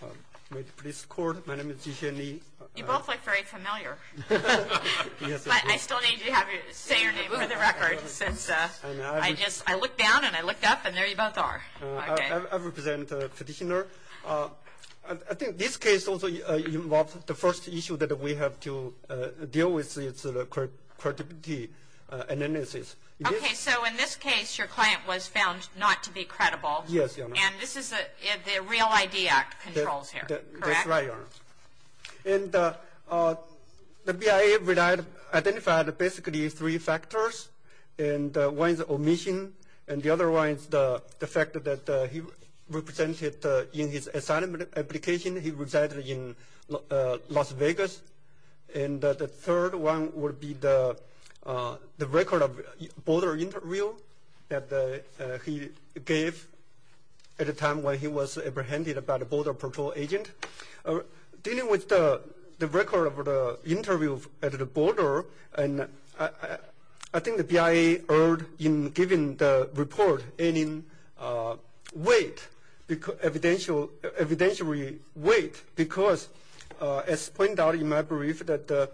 I represent the petitioner. I think this case also involves the first issue that we have to deal with. It's the credibility analysis. Okay, so in this case your client was found not to be credible. Yes, Your Honor. And this is the Real ID Act controls here, correct? That's right, Your Honor. And the BIA identified basically three factors. And one is omission and the other one is the fact that he represented in his assignment application he resided in Las Vegas. And the third one would be the record of border interview that he gave at the time when he was apprehended by the border patrol agent. Dealing with the record of the interview at the border, I think the BIA erred in giving the report any weight, evidentiary weight, because as pointed out in my brief that the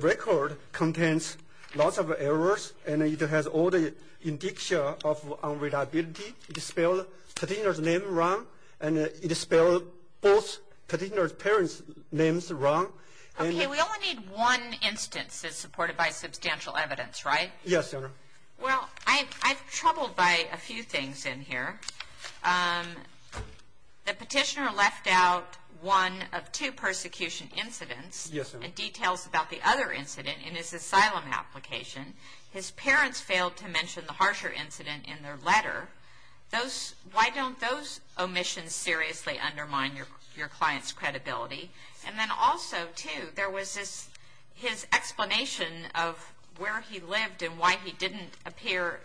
record contains lots of errors and it has all the indiction of unreliability. It spelled the petitioner's name wrong and it spelled both petitioner's parents' names wrong. Okay, we only need one instance that's supported by substantial evidence, right? Yes, Your Honor. Well, I'm troubled by a few things in here. The petitioner left out one of two persecution incidents and details about the other incident in his asylum application. His parents failed to mention the harsher incident in their letter. Why don't those omissions seriously undermine your client's credibility? And then also, too, there was his explanation of where he lived and why he didn't appear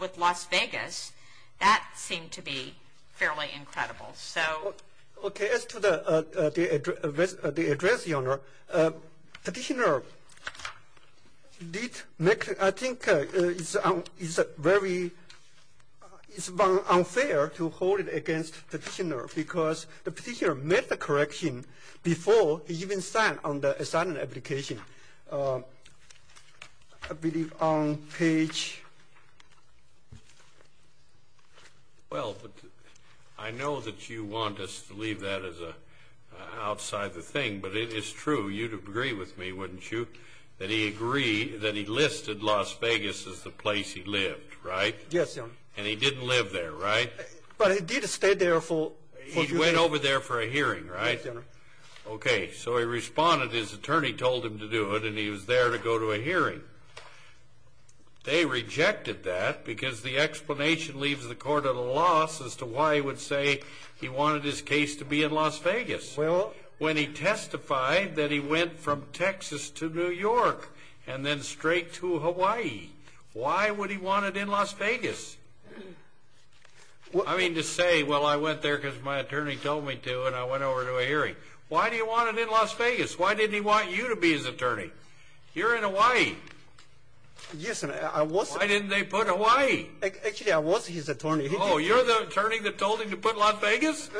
with Las Vegas. That seemed to be fairly incredible. Okay, as to the address, Your Honor, petitioner did make, I think it's very unfair to hold it against petitioner because the petitioner made the correction before he even signed on the asylum application. I believe on page. Well, I know that you want us to leave that as outside the thing, but it is true. You'd agree with me, wouldn't you, that he listed Las Vegas as the place he lived, right? Yes, Your Honor. And he didn't live there, right? But he did stay there for a few days. He went over there for a hearing, right? Yes, Your Honor. Okay, so he responded. His attorney told him to do it and he was there to go to a hearing. They rejected that because the explanation leaves the court at a loss as to why he would say he wanted his case to be in Las Vegas. Well, when he testified that he went from Texas to New York and then straight to Hawaii, why would he want it in Las Vegas? I mean to say, well, I went there because my attorney told me to and I went over to a hearing. Why do you want it in Las Vegas? Why didn't he want you to be his attorney? You're in Hawaii. Yes, and I was. Why didn't they put Hawaii? Actually, I was his attorney. Oh, you're the attorney that told him to put Las Vegas?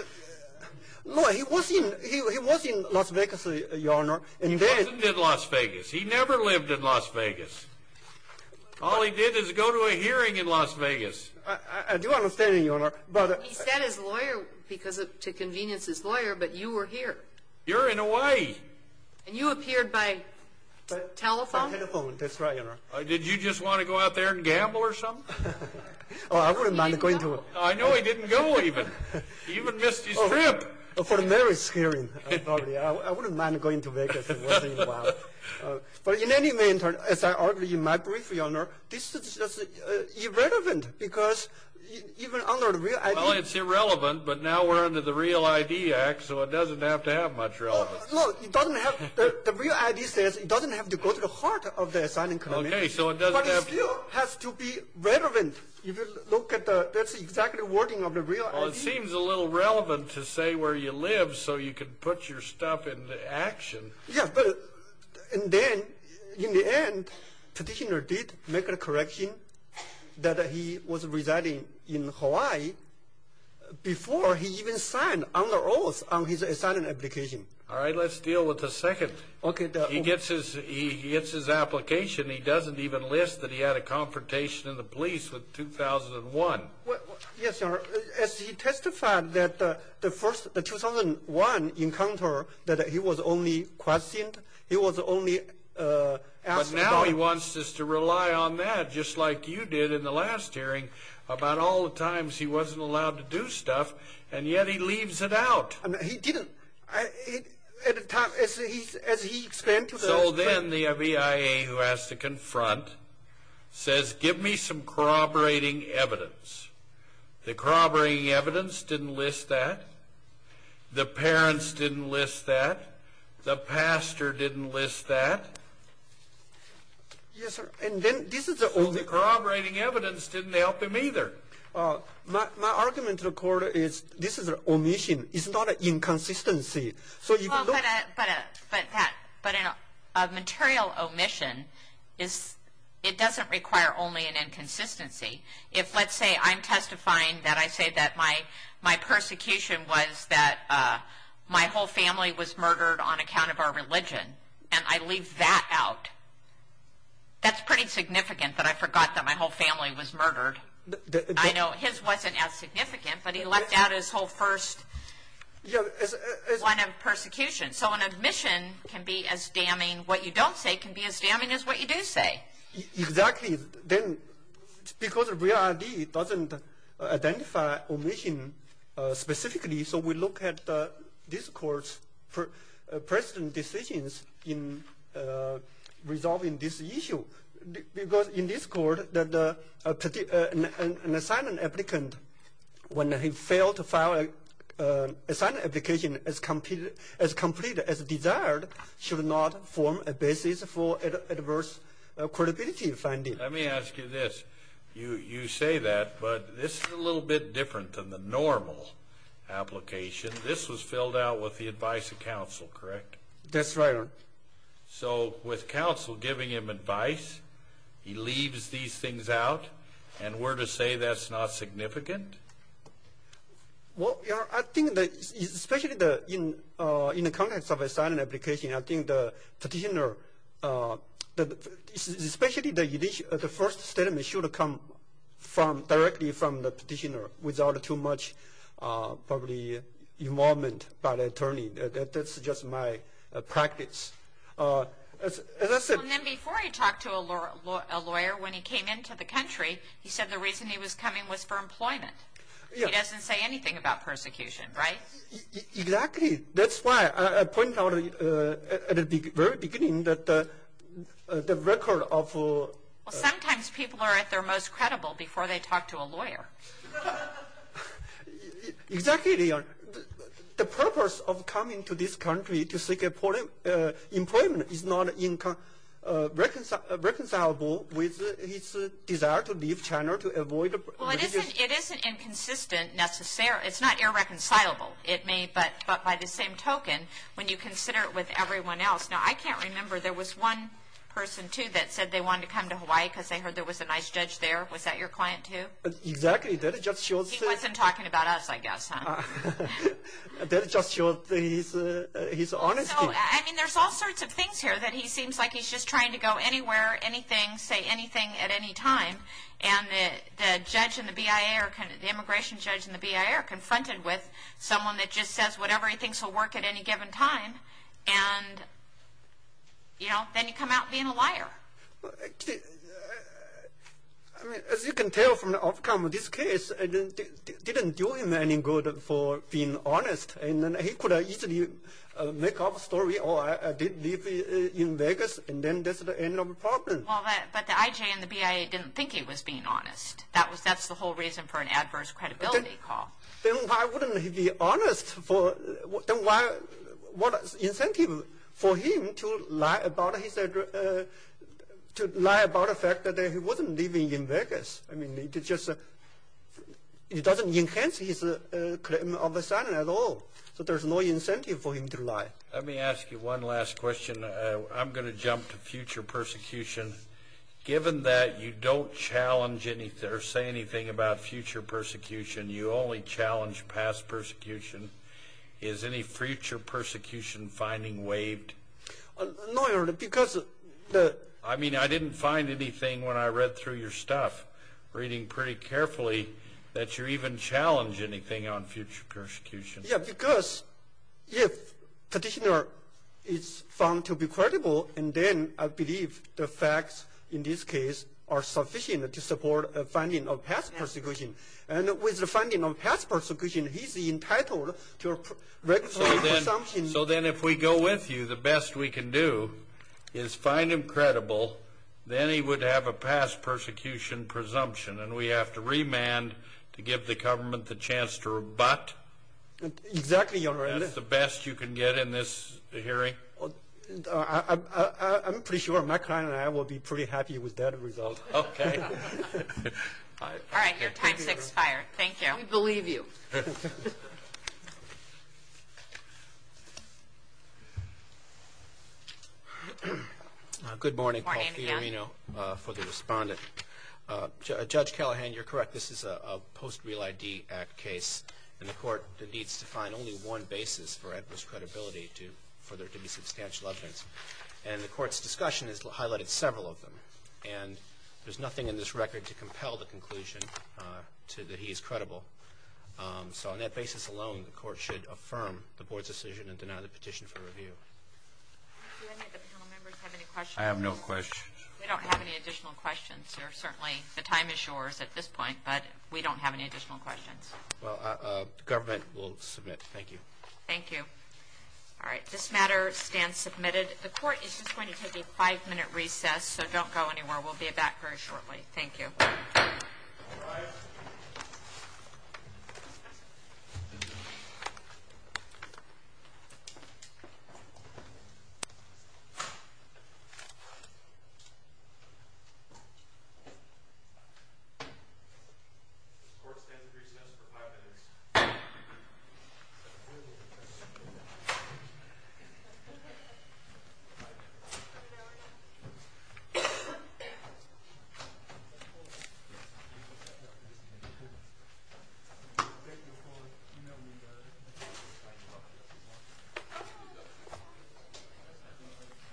No, he was in Las Vegas, Your Honor. He wasn't in Las Vegas. He never lived in Las Vegas. All he did is go to a hearing in Las Vegas. I do understand, Your Honor. He said his lawyer because to convenience his lawyer, but you were here. You're in Hawaii. And you appeared by telephone? By telephone, that's right, Your Honor. Did you just want to go out there and gamble or something? Oh, I wouldn't mind going to a- He didn't go. I know he didn't go even. He even missed his trip. For the marriage hearing, I wouldn't mind going to Vegas. But in any event, as I argued in my brief, Your Honor, this is just irrelevant because even under the Real ID- Well, it's irrelevant, but now we're under the Real ID Act, so it doesn't have to have much relevance. No, it doesn't have- The Real ID says it doesn't have to go to the heart of the assignment. Okay, so it doesn't have to- But it still has to be relevant. If you look at the- That's exactly the wording of the Real ID. Well, it seems a little relevant to say where you live so you can put your stuff into action. Yeah, but- And then, in the end, petitioner did make a correction that he was residing in Hawaii before he even signed on the oath on his assignment application. All right, let's deal with the second. He gets his application. He doesn't even list that he had a confrontation in the police with 2001. Yes, Your Honor. As he testified that the 2001 encounter that he was only questioned, he was only asked- But now he wants us to rely on that, just like you did in the last hearing, about all the times he wasn't allowed to do stuff, and yet he leaves it out. He didn't. At the time, as he explained to the- So then the BIA, who has to confront, says, give me some corroborating evidence. The corroborating evidence didn't list that. The parents didn't list that. The pastor didn't list that. Yes, sir. And then this is the only- So the corroborating evidence didn't help him either. My argument to the court is this is an omission. It's not an inconsistency. But a material omission, it doesn't require only an inconsistency. If, let's say, I'm testifying that I say that my persecution was that my whole family was murdered on account of our religion, and I leave that out, that's pretty significant that I forgot that my whole family was murdered. I know his wasn't as significant, but he left out his whole first line of persecution. So an omission can be as damning what you don't say can be as damning as what you do say. Exactly. Because Real ID doesn't identify omission specifically, so we look at this court's precedent decisions in resolving this issue. Because in this court, an assignment applicant, when he failed to file an assignment application as complete as desired, should not form a basis for adverse credibility finding. Let me ask you this. You say that, but this is a little bit different than the normal application. This was filled out with the advice of counsel, correct? That's right, Your Honor. So with counsel giving him advice, he leaves these things out, and we're to say that's not significant? Well, Your Honor, I think especially in the context of an assignment application, I think the petitioner, especially the first statement should come directly from the petitioner without too much probably involvement by the attorney. That's just my practice. And then before he talked to a lawyer, when he came into the country, he said the reason he was coming was for employment. He doesn't say anything about persecution, right? Exactly. That's why I pointed out at the very beginning that the record of... Well, sometimes people are at their most credible before they talk to a lawyer. Exactly, Your Honor. The purpose of coming to this country to seek employment is not reconcilable with his desire to leave China to avoid... Well, it isn't inconsistent necessarily. It's not irreconcilable. It may, but by the same token, when you consider it with everyone else. Now, I can't remember. There was one person, too, that said they wanted to come to Hawaii because they heard there was a nice judge there. Was that your client, too? Exactly. That just shows... He wasn't talking about us, I guess, huh? That just shows his honesty. I mean, there's all sorts of things here that he seems like he's just trying to go anywhere, anything, say anything at any time, and the judge and the BIA or the immigration judge and the BIA are confronted with someone that just says whatever he thinks will work at any given time, and, you know, then you come out being a liar. As you can tell from the outcome of this case, it didn't do him any good for being honest, and then he could easily make up a story, oh, I did live in Vegas, and then that's the end of the problem. Well, but the IJ and the BIA didn't think he was being honest. That's the whole reason for an adverse credibility call. Then why wouldn't he be honest? What incentive for him to lie about his address, to lie about the fact that he wasn't living in Vegas? I mean, it just doesn't enhance his claim of asylum at all. So there's no incentive for him to lie. Let me ask you one last question. I'm going to jump to future persecution. Given that you don't challenge anything or say anything about future persecution, you only challenge past persecution, is any future persecution finding waived? No, Your Honor, because the I mean, I didn't find anything when I read through your stuff, reading pretty carefully that you even challenge anything on future persecution. Yeah, because if the petitioner is found to be credible, and then I believe the facts in this case are sufficient to support a finding of past persecution. And with the finding of past persecution, he's entitled to a regular presumption. So then if we go with you, the best we can do is find him credible, then he would have a past persecution presumption, and we have to remand to give the government the chance to rebut? Exactly, Your Honor. That's the best you can get in this hearing? I'm pretty sure my client and I will be pretty happy with that result. Okay. All right, your time's expired. Thank you. We believe you. Good morning, Paul Fiorino, for the respondent. Judge Callahan, you're correct, this is a post-Real ID Act case, and the court needs to find only one basis for adverse credibility for there to be substantial evidence. And the court's discussion has highlighted several of them, and there's nothing in this record to compel the conclusion that he is credible. So on that basis alone, the court should affirm the board's decision and deny the petition for review. Do any of the panel members have any questions? I have no questions. We don't have any additional questions. Certainly the time is yours at this point, but we don't have any additional questions. Well, the government will submit. Thank you. Thank you. All right, this matter stands submitted. The court is just going to take a five-minute recess, so don't go anywhere. We'll be back very shortly. Thank you. All rise. The court stands at recess for five minutes. The court is adjourned.